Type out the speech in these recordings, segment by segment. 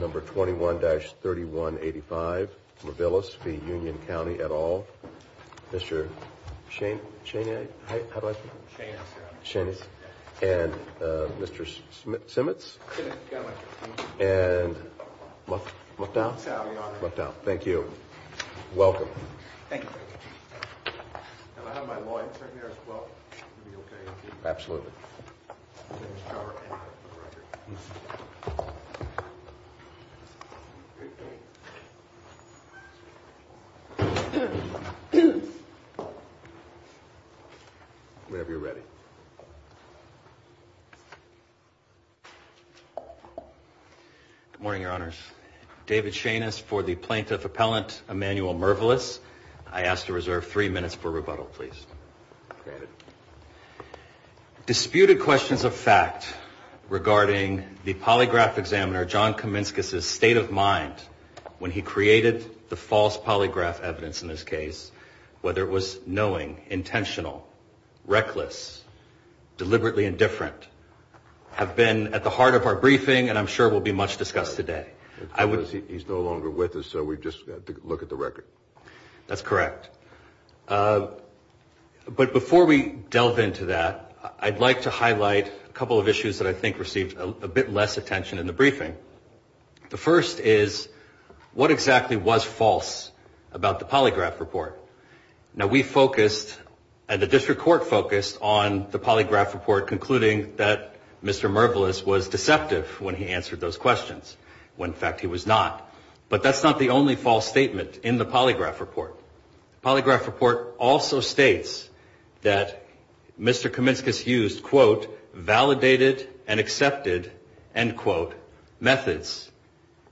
Number 21-3185 Mervilus v. Union County et al. Mr. Chaney and Mr. Cheney. Good morning, your honors. David Cheney for the plaintiff appellant, Emanuel Mervilus. I ask to reserve three minutes for rebuttal, please. Disputed questions of fact regarding the polygraph examiner, John Kaminskis' state of mind when he created the false polygraph evidence in this case, whether it was knowing, intentional, reckless, deliberately indifferent, have been at the heart of our briefing and I'm sure will be much discussed today. He's no longer with us, so we just look at the record. That's correct. But before we delve into that, I'd like to highlight a couple of issues that I think received a bit less attention in the briefing. The first is what exactly was false about the polygraph report? Now we focused and the district court focused on the polygraph report concluding that Mr. Mervilus was deceptive when he answered those questions, when in fact he was not. But that's not the only false statement in the polygraph report. The polygraph report also states that Mr. Kaminskis used, quote, validated and accepted, end quote, methods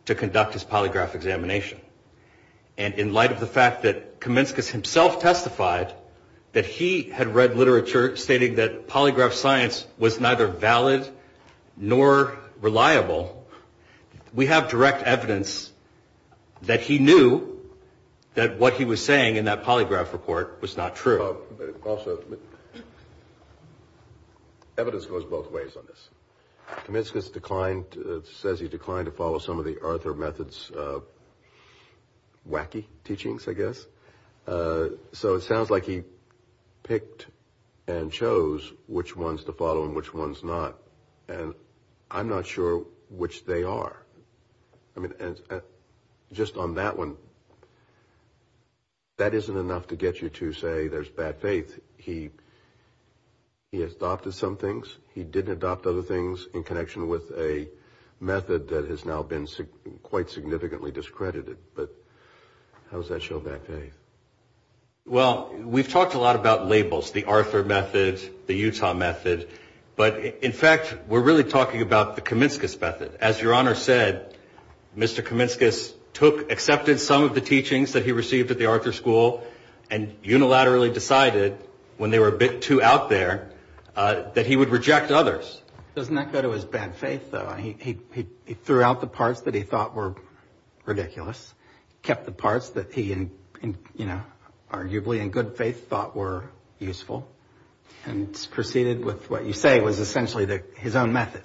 to conduct his polygraph examination. And in light of the fact that Kaminskis himself testified that he had read literature stating that polygraph science was neither valid nor reliable, we have direct evidence that he knew that what he was saying in that polygraph report was not true. Also, evidence goes both ways on this. Kaminskis declined, says he declined to follow some of the Arthur Method's wacky teachings, I guess. So it sounds like he picked and chose which ones to follow and which ones not. And I'm not sure which they are. I mean, just on that one, that isn't enough to get you to say there's bad faith. He adopted some things. He didn't adopt other things in connection with a method that has now been quite significantly discredited. But how does that show bad faith? Well, we've talked a lot about labels, the Arthur Method, the Utah Method. But in fact, we're really talking about the Kaminskis Method. As Your Honor said, Mr. Kaminskis took, accepted some of the teachings that he received at the Arthur School and unilaterally decided, when they were a bit too out there, that he would reject others. Doesn't that go to his bad faith, though? He threw out the parts that he thought were ridiculous, kept the parts that he arguably, in good faith, thought were useful, and proceeded with what you say was essentially his own method.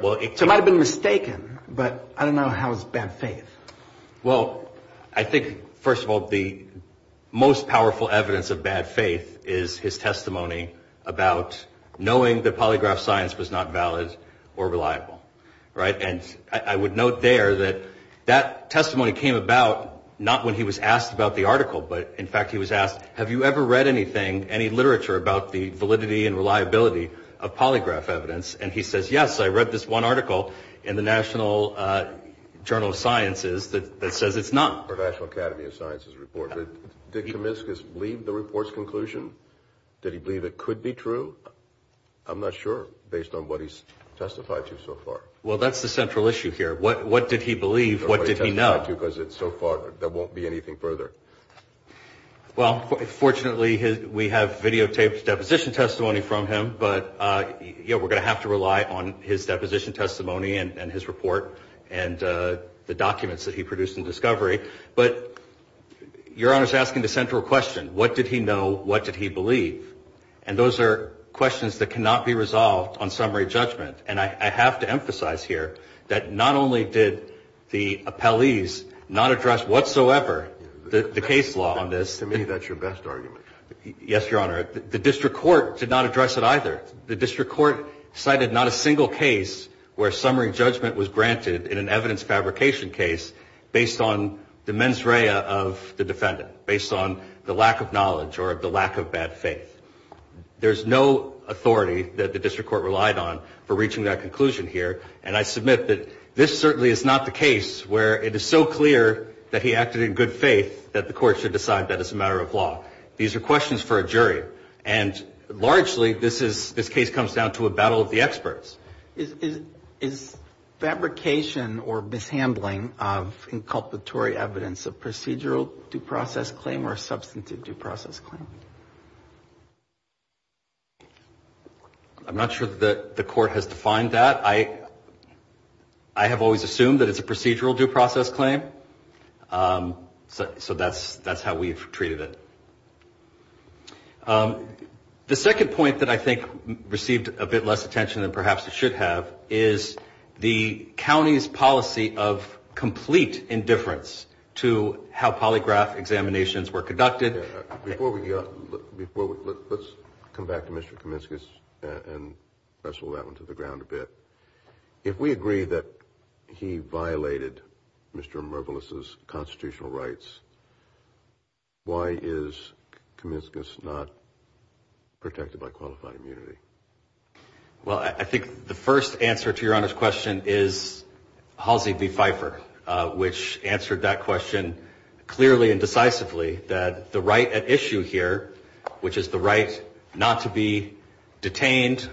So he might have been mistaken, but I don't know how is bad faith? Well, I think, first of all, the most powerful evidence of bad faith is his testimony about knowing that polygraph science was not valid or reliable, right? And I would note there that that testimony came about not when he was asked about the article, but in fact, he was asked, have you ever read anything, any literature about the validity and reliability of polygraph evidence? And he says, yes, I read this one article in the National Journal of Sciences that says it's not. The National Academy of Sciences report. Did Kaminskis believe the report's conclusion? Did he believe it could be true? I'm not sure, based on what he's testified to so far. Well, that's the central issue here. What did he believe? What did he know? Because so far, there won't be anything further. Well, fortunately, we have videotaped deposition testimony from him, but we're going to have to rely on his deposition testimony and his report and the documents that he produced in Discovery. But Your Honor is asking the central question. What did he know? What did he believe? And those are questions that cannot be resolved on summary judgment. And I have to emphasize here that not only did the appellees not address whatsoever the case law on this. To me, that's your best argument. Yes, Your Honor. The district court did not address it either. The district court cited not a single case where summary judgment was granted in an evidence fabrication case based on the mens rea of the defendant, based on the lack of knowledge or the lack of bad faith. There's no authority that the district court relied on for reaching that conclusion here. And I submit that this certainly is not the case where it is so clear that he acted in good faith that the court should decide that as a matter of law. These are questions for a jury. And largely, this is this case comes down to a battle of the experts. Is fabrication or mishandling of inculpatory evidence a procedural due process claim or a substantive due process claim? I'm not sure that the court has defined that. I have always assumed that it's a procedural due process claim. So that's that's how we've treated it. The second point that I think received a bit less attention than perhaps was should have is the county's policy of complete indifference to how polygraph examinations were conducted. Before we go before, let's come back to Mr. Comiscus and wrestle that one to the ground a bit. If we agree that he violated Mr. Marvelous's constitutional rights, why is Comiscus not protected by qualified immunity? Well, I think the first answer to your question is Halsey v. Pfeiffer, which answered that question clearly and decisively that the right at issue here, which is the right not to be detained,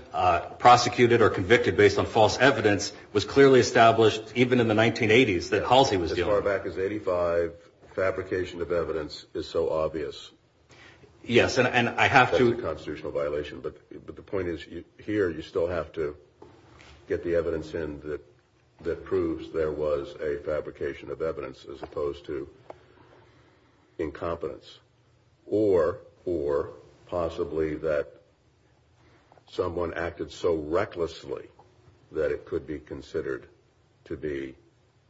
prosecuted or convicted based on false evidence, was clearly established even in the 1980s that Halsey was as far back as 85. The fabrication of evidence is so obvious. Yes, and I have to constitutional violation. But the point is here you still have to get the evidence in that that proves there was a fabrication of evidence as opposed to incompetence or or possibly that someone acted so recklessly that it could be considered to be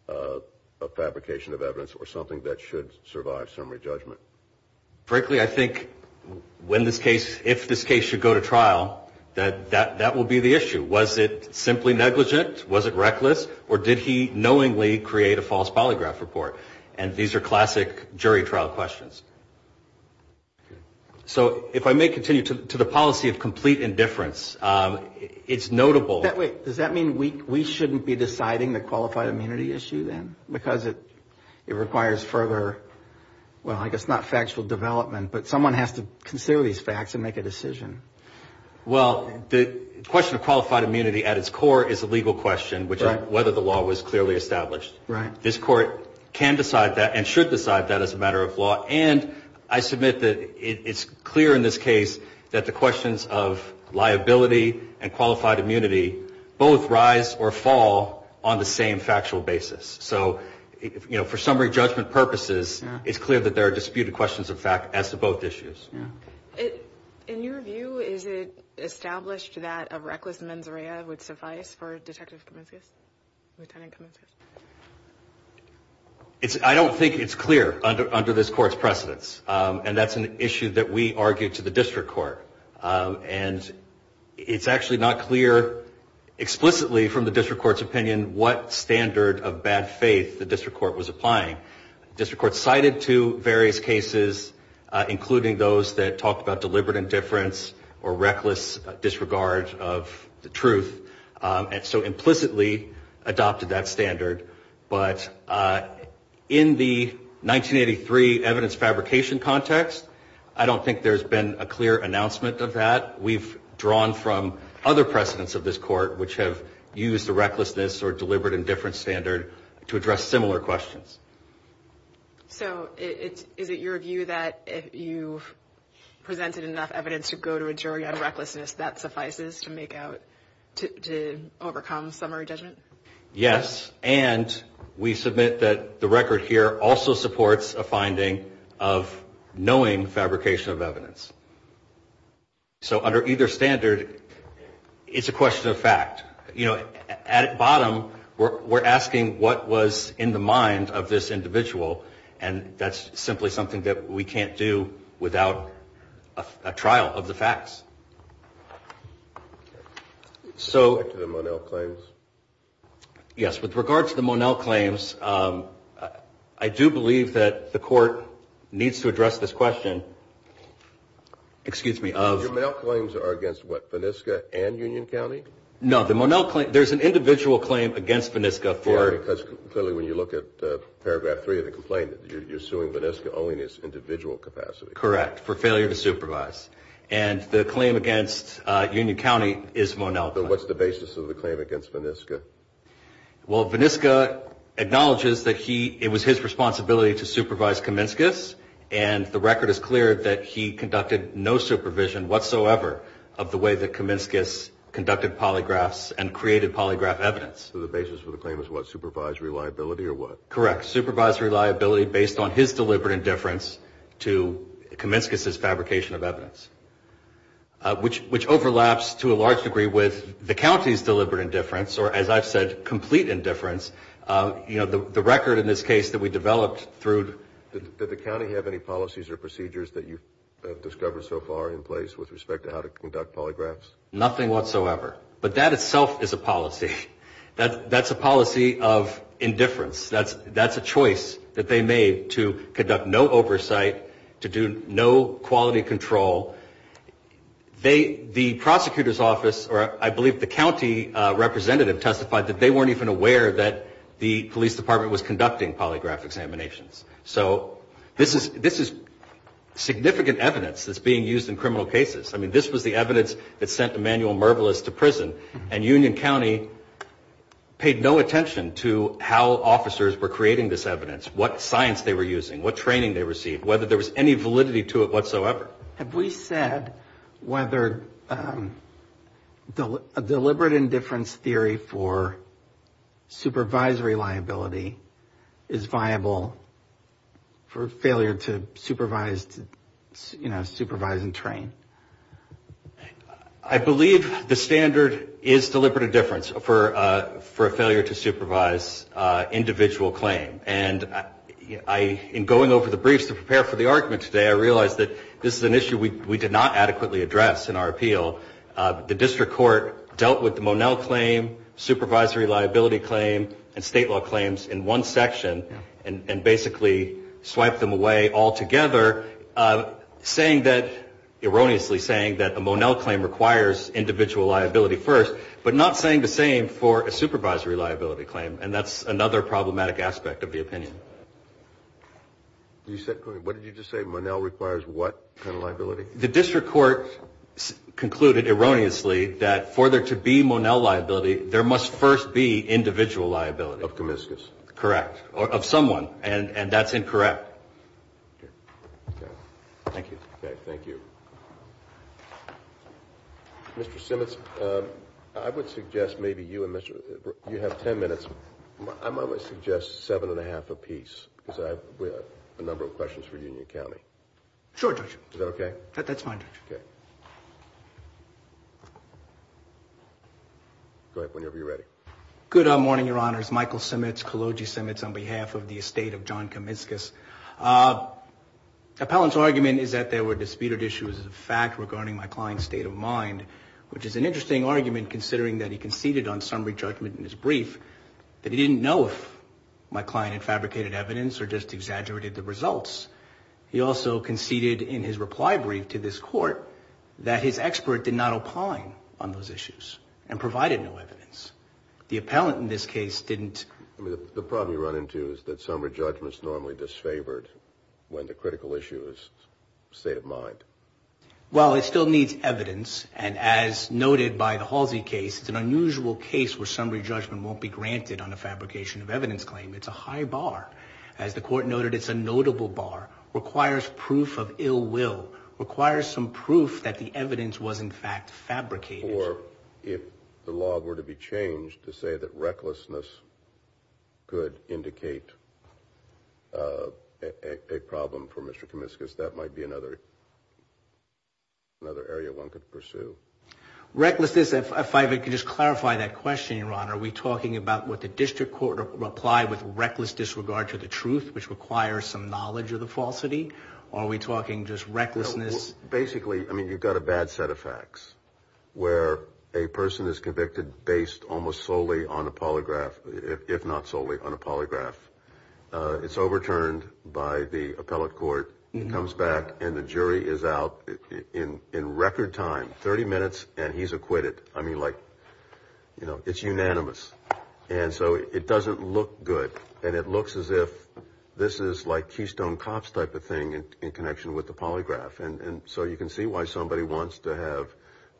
a fabrication of evidence or something that should survive summary judgment. Frankly, I think when this case, if this case should go to trial, that that that will be the issue. Was it simply negligent? Was it reckless? Or did he knowingly create a false polygraph report? And these are classic jury trial questions. So if I may continue to the policy of complete indifference, it's notable. Does that mean we shouldn't be deciding the qualified immunity issue, then, because it requires further? Well, I guess not factual development, but someone has to consider these facts and make a decision. Well, the question of qualified immunity at its core is a legal question, which is whether the law was clearly established. Right. This court can decide that and should decide that as a matter of law. And I submit that it's clear in this case that the questions of liability and qualified immunity both rise or fall on the same factual basis. So, you know, for summary judgment purposes, it's clear that there are disputed questions of fact as to both issues. And in your view, is it established that a reckless mens rea would suffice for a detective? It's I don't think it's clear under under this court's precedence. And that's an issue that we argue to the district court. And it's actually not clear explicitly from the district court's opinion what standard of bad faith the district court was applying. District court cited to various cases, including those that talk about deliberate indifference or reckless disregard of the truth. And so implicitly adopted that standard. But in the 1983 evidence fabrication context, I don't think there's been a clear announcement of that. We've drawn from other precedents of this court which have used the recklessness or deliberate indifference standard to address similar questions. So is it your view that you've presented enough evidence to go to a jury on recklessness that suffices to make out to overcome summary judgment? Yes. And we submit that the record here also supports a finding of knowing fabrication of evidence. So under either standard, it's a question of fact, you know, at bottom, we're asking what was in the mind of this individual. And that's simply something that we can't do without a trial of the facts. So to the Monell claims. Yes. With regard to the Monell claims, I do believe that the court needs to address this question. Excuse me. Monell claims are against what? UNESCO and Union County. No, the Monell claim. There's an individual claim against UNESCO. Clearly, when you look at paragraph three of the complaint, you're suing UNESCO only in its individual capacity. Correct. For failure to supervise. And the claim against Union County is Monell. So what's the basis of the claim against UNESCO? Well, UNESCO acknowledges that he it was his responsibility to supervise Comiscus. And the record is clear that he conducted no supervision whatsoever of the way that Comiscus conducted polygraphs and created polygraph evidence. So the basis for the claim is what? Supervised reliability or what? Correct. Supervised reliability based on his deliberate indifference to Comiscus's fabrication of evidence. Which which overlaps to a large degree with the county's deliberate indifference or, as I've said, complete indifference. You know, the record in this case that we developed through the county have any policies or procedures that you've discovered so far in place with respect to how to conduct polygraphs? Nothing whatsoever. But that itself is a policy that that's a policy of indifference. That's that's a choice that they made to conduct no oversight, to do no quality control. They the prosecutor's office or I believe the county representative testified that they weren't even aware that the police department was conducting polygraph examinations. So this is this is significant evidence that's being used in criminal cases. I mean, this was the evidence that sent Emanuel Mervelous to prison and Union County paid no attention to how officers were creating this evidence. What science they were using, what training they received, whether there was any validity to it whatsoever. Have we said whether a deliberate indifference theory for supervisory liability is viable for failure to supervise, you know, supervise and train? I believe the standard is deliberate indifference for for a failure to supervise individual claim. And I in going over the briefs to prepare for the argument today, I realized that this is an issue we did not adequately address in our appeal. The district court dealt with the Monell claim, supervisory liability claim and state law claims in one section and basically swiped them away altogether, saying that erroneously saying that a Monell claim requires individual liability first, but not saying the same for a supervisory liability claim. And that's another problematic aspect of the opinion. You said what did you just say? Monell requires what kind of liability? The district court concluded erroneously that for there to be Monell liability, there must first be individual liability of Comiscus. Correct. Or of someone. And that's incorrect. Thank you. Thank you. Mr. Simmons, I would suggest maybe you and Mr. You have 10 minutes. I might suggest seven and a half apiece because I have a number of questions for Union County. Sure. Is that OK? That's fine. OK. Whenever you're ready. Good morning, Your Honor. Michael Simmons, Kaloji Simmons, on behalf of the estate of John Comiscus. Appellant's argument is that there were disputed issues of fact regarding my client's state of mind, which is an interesting argument, considering that he conceded on summary judgment in his brief that he didn't know if my client fabricated evidence or just exaggerated the results. He also conceded in his reply brief to this court that his expert did not opine on those issues and provided no evidence. The appellant in this case didn't. I mean, the problem you run into is that summary judgments normally disfavored when the critical issue is state of mind. Well, it still needs evidence. And as noted by the Halsey case, it's an unusual case where summary judgment won't be granted on a fabrication of evidence claim. It's a high bar. As the court noted, it's a notable bar, requires proof of ill will, requires some proof that the evidence was in fact fabricated. Or if the law were to be changed to say that recklessness could indicate a problem for Mr. Comiscus, that might be another another area one could pursue. Recklessness, if I could just clarify that question, Your Honor, are we talking about what the district court replied with reckless disregard to the truth, which requires some knowledge of the falsity? Are we talking just recklessness? Basically, I mean, you've got a bad set of facts where a person is convicted based almost solely on a polygraph, if not solely on a polygraph. It's overturned by the appellate court. It comes back and the jury is out in record time, 30 minutes, and he's acquitted. I mean, like, you know, it's unanimous. And so it doesn't look good. And it looks as if this is like Keystone Cops type of thing in connection with the polygraph. And so you can see why somebody wants to have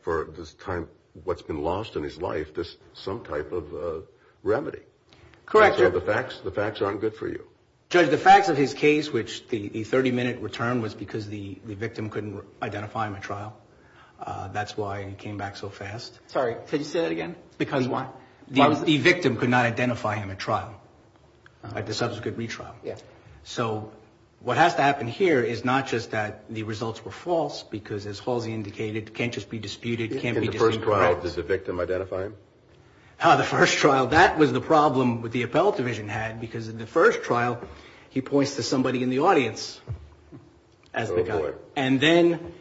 for this time what's been lost in his life, this some type of remedy. Correct. So the facts, the facts aren't good for you. Judge, the facts of his case, which the 30 minute return was because the victim couldn't identify him at trial. That's why he came back so fast. Sorry. Could you say that again? Because the victim could not identify him at trial at the subsequent retrial. Yeah. So what has to happen here is not just that the results were false because, as Halsey indicated, can't just be disputed. In the first trial, does the victim identify him? Ah, the first trial. That was the problem with the appellate division had because in the first trial, he points to somebody in the audience as the guy. Oh, boy. And then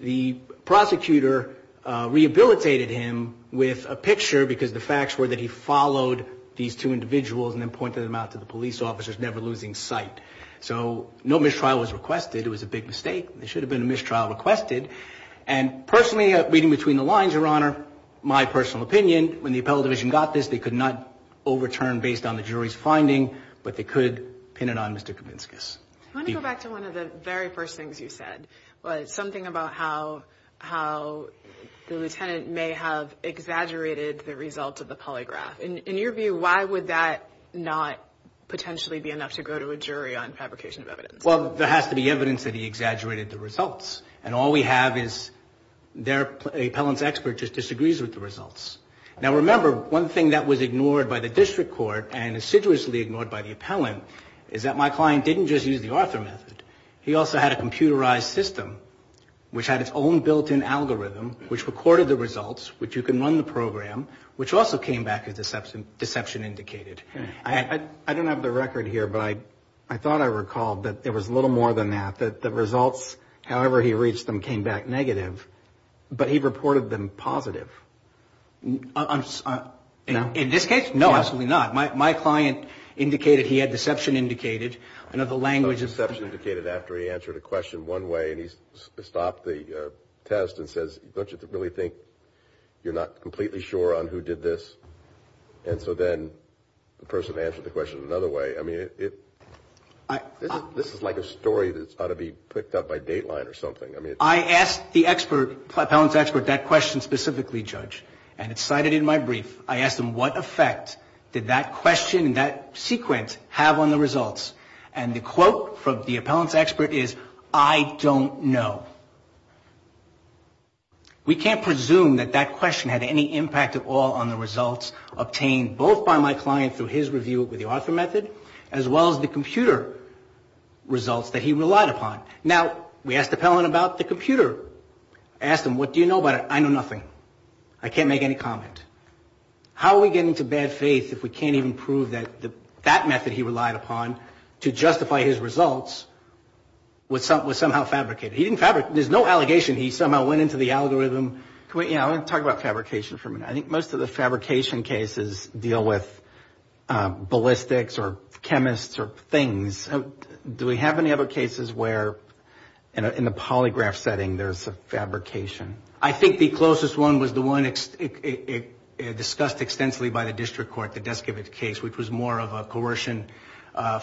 the prosecutor rehabilitated him with a picture because the facts were that he followed these two individuals and then pointed them out to the police officers, never losing sight. So no mistrial was requested. It was a big mistake. There should have been a mistrial requested. And personally, reading between the lines, Your Honor, my personal opinion, when the appellate division got this, they could not overturn based on the jury's finding, but they could pin it on Mr. Kavinskas. I want to go back to one of the very first things you said, something about how the lieutenant may have exaggerated the result of the polygraph. In your view, why would that not potentially be enough to go to a jury on fabrication of evidence? Well, there has to be evidence that he exaggerated the results. And all we have is their appellant's expert just disagrees with the results. Now, remember, one thing that was ignored by the district court and assiduously ignored by the appellant is that my client didn't just use the Arthur method. He also had a computerized system, which had its own built-in algorithm, which recorded the results, which you can run the program, which also came back as deception indicated. I don't have the record here, but I thought I recalled that there was a little more than that, that the results, however he reached them, came back negative, but he reported them positive. In this case, no, absolutely not. My client indicated he had deception indicated. Deception indicated after he answered a question one way, and he stopped the test and says, don't you really think you're not completely sure on who did this? And so then the person answered the question another way. I mean, this is like a story that's got to be picked up by Dateline or something. I asked the appellant's expert that question specifically, Judge, and it's cited in my brief. I asked him what effect did that question and that sequence have on the results. And the quote from the appellant's expert is, I don't know. We can't presume that that question had any impact at all on the results obtained both by my client through his review with the author method, as well as the computer results that he relied upon. Now, we asked the appellant about the computer. I asked him, what do you know about it? I know nothing. I can't make any comment. How are we getting to bad faith if we can't even prove that that method he relied upon to justify his results was somehow fabricated? He didn't fabricate. There's no allegation. He somehow went into the algorithm. I want to talk about fabrication for a minute. I think most of the fabrication cases deal with ballistics or chemists or things. Do we have any other cases where in the polygraph setting there's a fabrication? I think the closest one was the one discussed extensively by the district court, the Deskibit case, which was more of a coercion,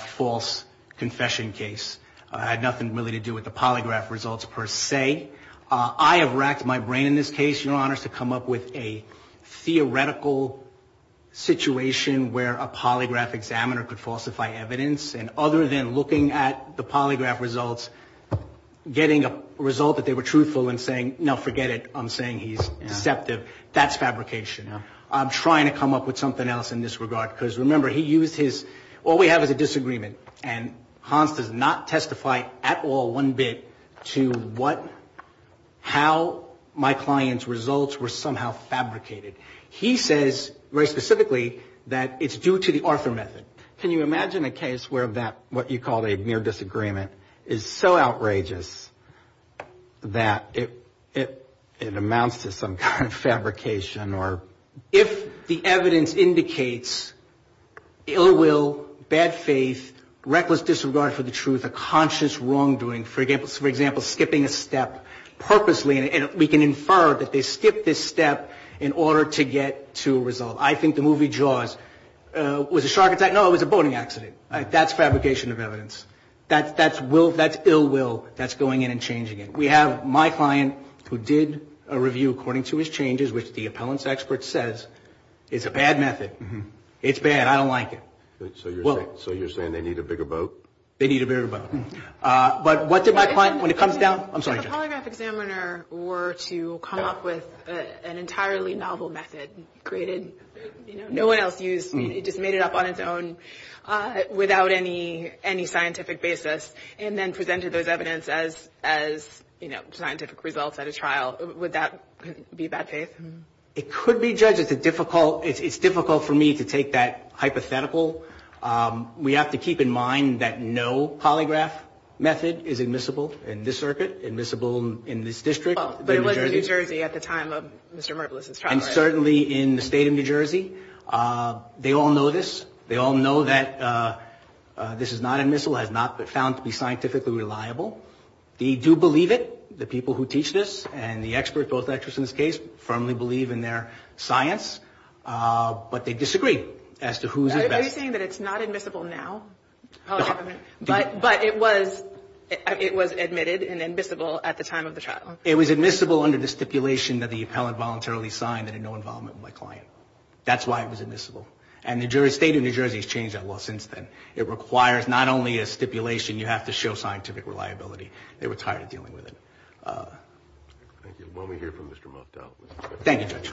false confession case. It had nothing really to do with the polygraph results per se. I have racked my brain in this case, Your Honor, to come up with a theoretical situation where a polygraph examiner could falsify evidence. And other than looking at the polygraph results, getting a result that they were truthful and saying, no, forget it, I'm saying he's deceptive, that's fabrication. I'm trying to come up with something else in this regard, because remember, he used his, all we have is a disagreement. And Hans does not testify at all, one bit, to what, how my client's results were somehow fabricated. He says very specifically that it's due to the Arthur method. Can you imagine a case where that, what you call a mere disagreement, is so outrageous that it amounts to some kind of fabrication? If the evidence indicates ill will, bad faith, reckless disregard for the truth, a conscious wrongdoing, for example, skipping a step purposely, and we can infer that they skipped this step in order to get to a result. I think the movie Jaws, was it a shark attack? No, it was a boating accident. That's fabrication of evidence. That's ill will that's going in and changing it. We have my client who did a review according to his changes, which the appellant's expert says is a bad method. It's bad, I don't like it. So you're saying they need a bigger boat? They need a bigger boat. But what did my client, when it comes down, I'm sorry. If a polygraph examiner were to come up with an entirely novel method, created, no one else used, just made it up on its own without any scientific basis, and then presented those evidence as scientific results at a trial, would that be bad faith? It could be, Judge. It's difficult for me to take that hypothetical. We have to keep in mind that no polygraph method is admissible in this circuit, admissible in this district. But it was in New Jersey at the time of Mr. Merpolis' trial. And certainly in the state of New Jersey. They all know this. They all know that this is not admissible, has not been found to be scientifically reliable. They do believe it, the people who teach this, and the experts, both experts in this case, firmly believe in their science. But they disagree as to who's at best. Are you saying that it's not admissible now? But it was admitted and admissible at the time of the trial. It was admissible under the stipulation that the appellant voluntarily signed that had no involvement with my client. That's why it was admissible. And the state of New Jersey has changed that law since then. It requires not only a stipulation, you have to show scientific reliability. They were tired of dealing with it. Thank you, Judge. Thank you, Judge.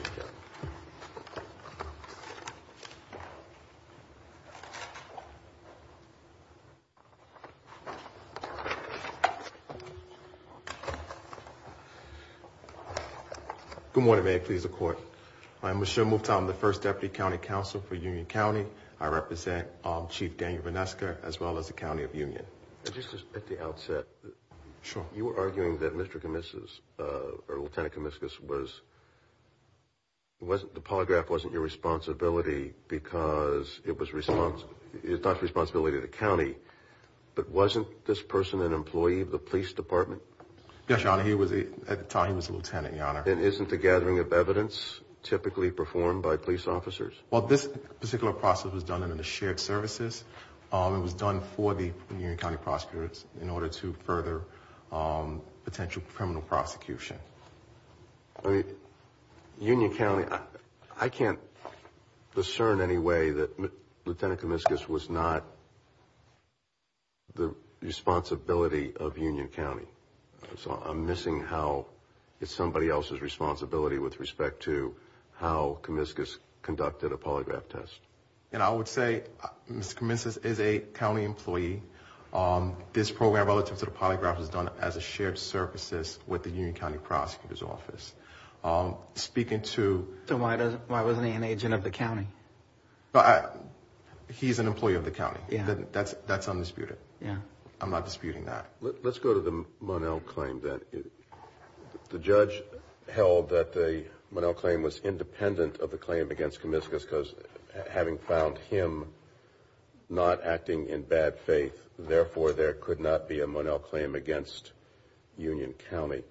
Good morning, may it please the Court. I'm Michelle Mouftah. I'm the first Deputy County Counsel for Union County. I represent Chief Daniel Vinesca, as well as the County of Union. Just at the outset, you were arguing that Mr. Comiscus, or Lieutenant Comiscus, was, the polygraph wasn't your responsibility because it was not the responsibility of the county, but wasn't this person an employee of the police department? Yes, Your Honor, at the time he was a lieutenant, Your Honor. And isn't the gathering of evidence typically performed by police officers? Well, this particular process was done under the shared services. It was done for the Union County prosecutors in order to further potential criminal prosecution. I mean, Union County, I can't discern any way that Lieutenant Comiscus was not the responsibility of Union County. So I'm missing how it's somebody else's responsibility with respect to how Comiscus conducted a polygraph test. And I would say Mr. Comiscus is a county employee. This program relative to the polygraph was done as a shared services with the Union County prosecutor's office. Speaking to... So why wasn't he an agent of the county? He's an employee of the county. That's undisputed. I'm not disputing that. Let's go to the Monell claim then. The judge held that the Monell claim was independent of the claim against Comiscus because having found him not acting in bad faith, therefore there could not be a Monell claim against Union County.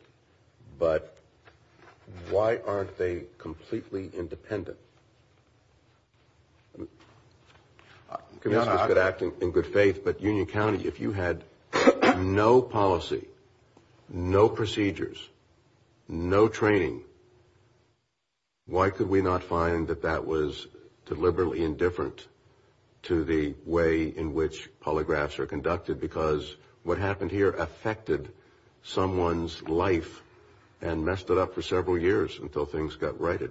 But why aren't they completely independent? Comiscus could act in good faith, but Union County, if you had no policy, no procedures, no training, why could we not find that that was deliberately indifferent to the way in which polygraphs are conducted? Because what happened here affected someone's life and messed it up for several years until things got righted.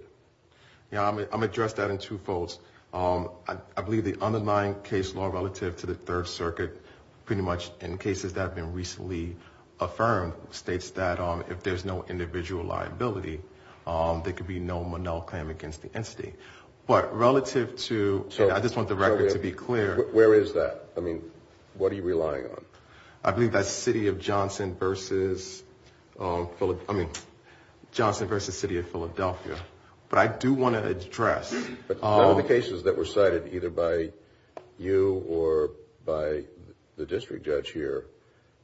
I'm going to address that in two folds. I believe the underlying case law relative to the Third Circuit, pretty much in cases that have been recently affirmed, states that if there's no individual liability, there could be no Monell claim against the entity. But relative to... I believe that's City of Johnson versus... I mean, Johnson versus City of Philadelphia. But I do want to address... But the cases that were cited either by you or by the district judge here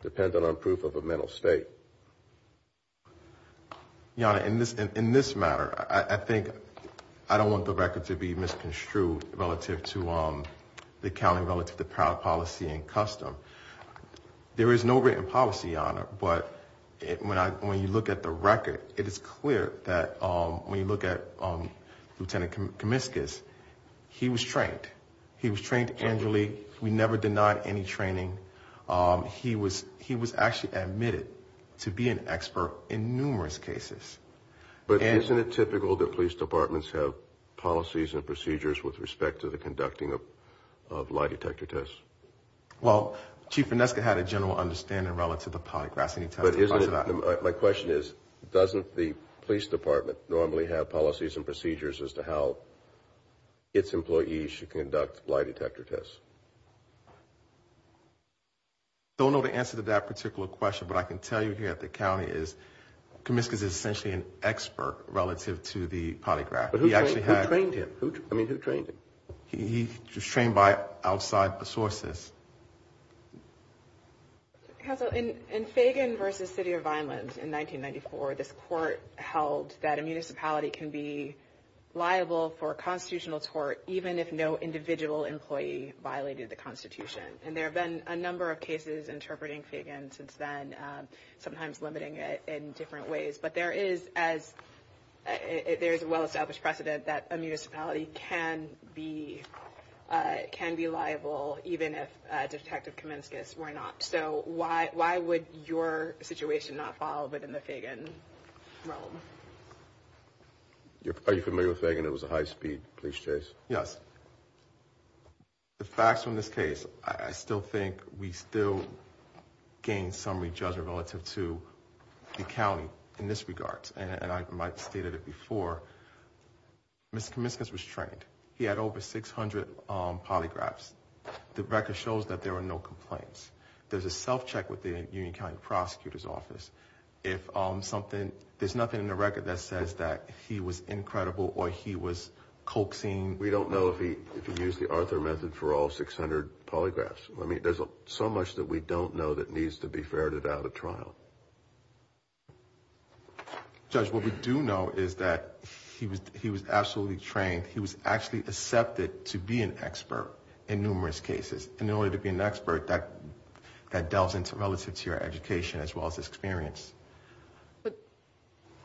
depend on proof of a Monell state. In this matter, I think I don't want the record to be misconstrued relative to the county, relative to power, policy and custom. There is no written policy on it. But when you look at the record, it is clear that when you look at Lieutenant Comiscus, he was trained. He was trained angrily. We never denied any training. He was actually admitted to be an expert in numerous cases. But isn't it typical that police departments have policies and procedures with respect to the conducting of lie detector tests? Well, Chief Vineska had a general understanding relative to the polygraph. My question is, doesn't the police department normally have policies and procedures as to how its employees should conduct lie detector tests? I don't know the answer to that particular question. What I can tell you here at the county is Comiscus is essentially an expert relative to the polygraph. He actually had... But who trained him? I mean, who trained him? He was trained by outside sources. Counsel, in Fagan v. City of Vineland in 1994, this court held that a municipality can be liable for constitutional tort even if no individual employee violated the Constitution. And there have been a number of cases interpreting Fagan since then, sometimes limiting it in different ways. But there is a well-established precedent that a municipality can be liable even if Detective Comiscus were not. So why would your situation not fall within the Fagan realm? Are you familiar with Fagan? It was a high-speed police chase. Yes. The facts from this case, I still think we still gain some rejudgment relative to the county in this regard. And I might have stated it before, Mr. Comiscus was trained. He had over 600 polygraphs. The record shows that there were no complaints. There's a self-check with the Union County Prosecutor's Office. There's nothing in the record that says that he was incredible or he was coaxing. We don't know if he used the Arthur method for all 600 polygraphs. I mean, there's so much that we don't know that needs to be ferreted out at trial. Judge, what we do know is that he was absolutely trained. He was actually accepted to be an expert in numerous cases. And in order to be an expert, that delves into relative to your education as well as experience. But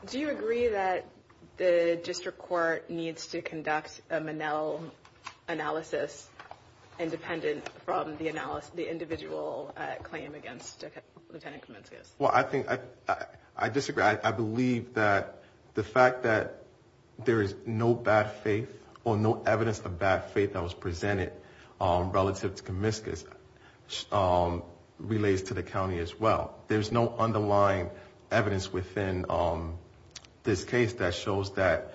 do you agree that the district court needs to conduct a Manel analysis independent from the individual claim against Lieutenant Comiscus? Well, I disagree. I believe that the fact that there is no bad faith or no evidence of bad faith that was presented relative to Comiscus relates to the county as well. There's no underlying evidence within this case that shows that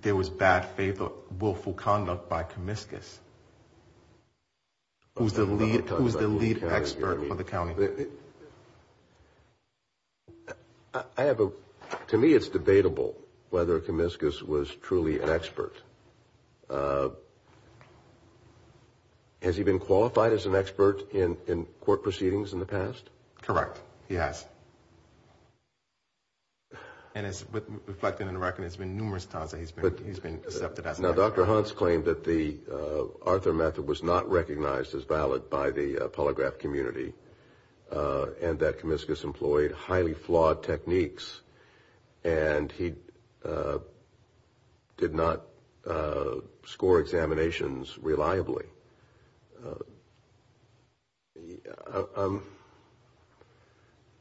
there was bad faith or willful conduct by Comiscus. Who's the lead expert for the county? To me, it's debatable whether Comiscus was truly an expert. Has he been qualified as an expert in court proceedings in the past? Correct, he has. And it's reflected in the record, there's been numerous times that he's been accepted as an expert. Now, Dr. Hunts claimed that the Arthur method was not recognized as valid by the polygraph community and that Comiscus employed highly flawed techniques and he did not score examinations reliably. I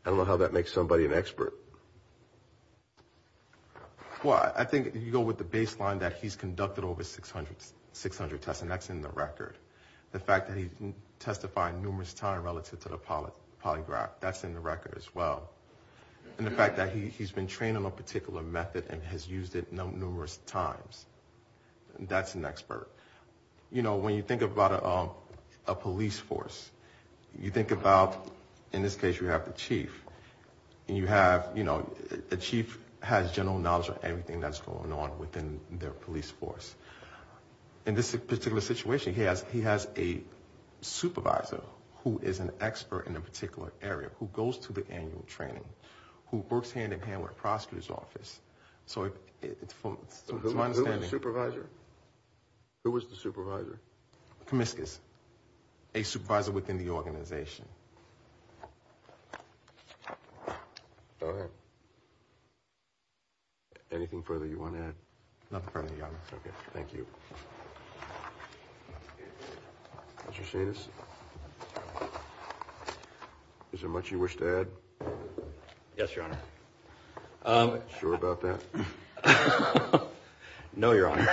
don't know how that makes somebody an expert. Well, I think you go with the baseline that he's conducted over 600 tests and that's in the record. The fact that he testified numerous times relative to the polygraph, that's in the record as well. And the fact that he's been trained on a particular method and has used it numerous times, that's an expert. You know, when you think about a police force, you think about, in this case, you have the chief and the chief has general knowledge of everything that's going on within their police force. In this particular situation, he has a supervisor who is an expert in a particular area, who goes to the annual training, who works hand-in-hand with the prosecutor's office. So it's my understanding. Who is the supervisor? Comiscus, a supervisor within the organization. Anything further you want to add? Thank you. Is there much you wish to add? No, Your Honor.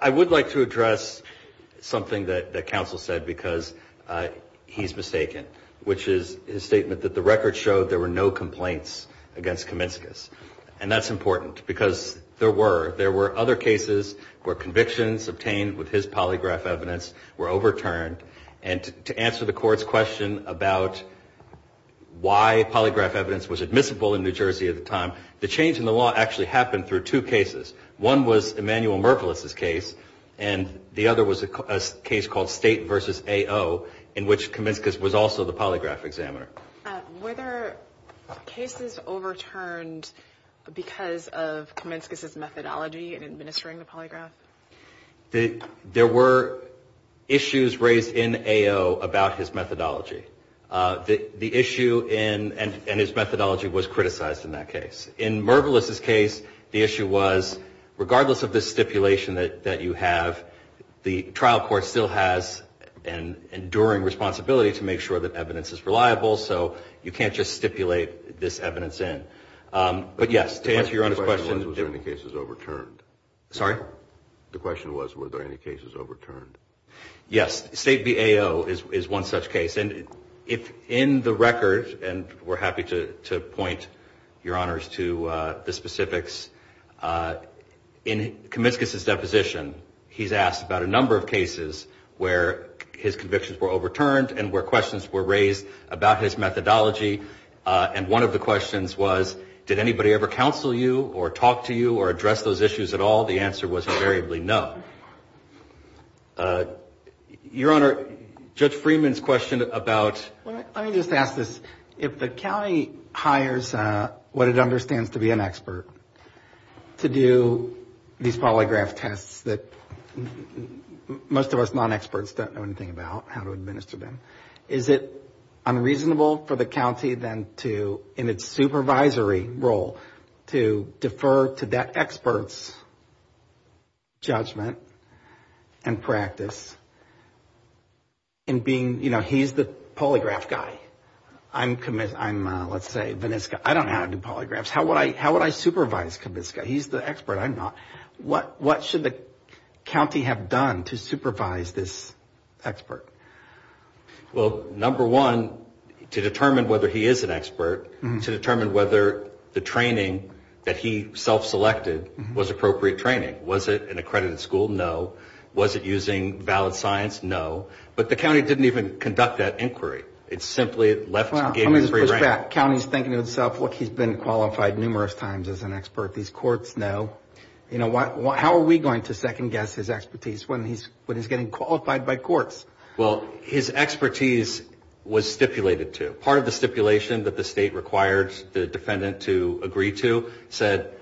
I would like to address something that counsel said because he's mistaken, which is his statement that the record showed there were no complaints against Comiscus. And that's important because there were. There were other cases where convictions obtained with his polygraph evidence were overturned. And to answer the Court's question about why polygraph evidence was admissible in New Jersey at the time, the change in the law actually happened through two cases. One was Emanuel Mervelous' case and the other was a case called State v. AO in which Comiscus was also the polygraph examiner. Were there cases overturned because of Comiscus' methodology in administering the polygraph? There were issues raised in AO about his methodology. The issue and his methodology was criticized in that case. In Mervelous' case, the issue was regardless of the stipulation that you have, the trial court still has an enduring responsibility to make sure that evidence is reliable so you can't just stipulate this evidence in. But yes, to answer Your Honor's question. Was there any cases overturned? The question was were there any cases overturned? Yes. State v. AO is one such case. And in the record, and we're happy to point Your Honors to the specifics, in Comiscus' deposition, he's asked about a number of cases where his convictions were overturned and where questions were raised about his methodology. And one of the questions was did anybody ever counsel you or talk to you or address those issues at all? The answer was invariably no. Your Honor, Judge Freeman's question about... Let me just ask this. If the county hires what it understands to be an expert to do these polygraph tests that most of us non-experts don't know anything about, how to administer them, is it unreasonable for the county then to, in its supervisory role, to defer to that expert's judgment and practice in being, you know, he's the polygraph guy. I'm, let's say, Vaniska. I don't know how to do polygraphs. How would I supervise Vaniska? He's the expert. I'm not. What should the county have done to supervise this expert? Well, number one, to determine whether he is an expert, to determine whether the training that he self-selected was appropriate training. Was it an accredited school? No. Was it using valid science? No. But the county didn't even conduct that inquiry. It simply left the game in free reign. So the county's thinking to itself, look, he's been qualified numerous times as an expert. These courts know. You know, how are we going to second guess his expertise when he's getting qualified by courts? Well, his expertise was stipulated to. Part of the stipulation that the state required the defendant to agree to said,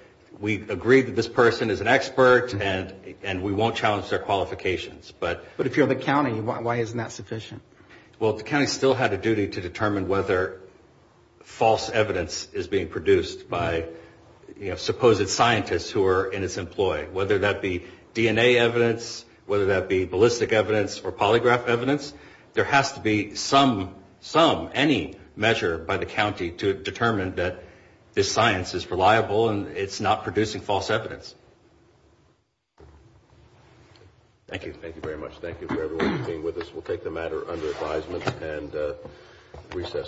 we agree that this person is an expert and we won't challenge their qualifications. But if you're the county, why isn't that sufficient? Well, the county still had a duty to determine whether false evidence is being produced by supposed scientists who are in its employ, whether that be DNA evidence, whether that be ballistic evidence or polygraph evidence. There has to be some, some, any measure by the county to determine that this science is reliable and it's not producing false evidence. Thank you.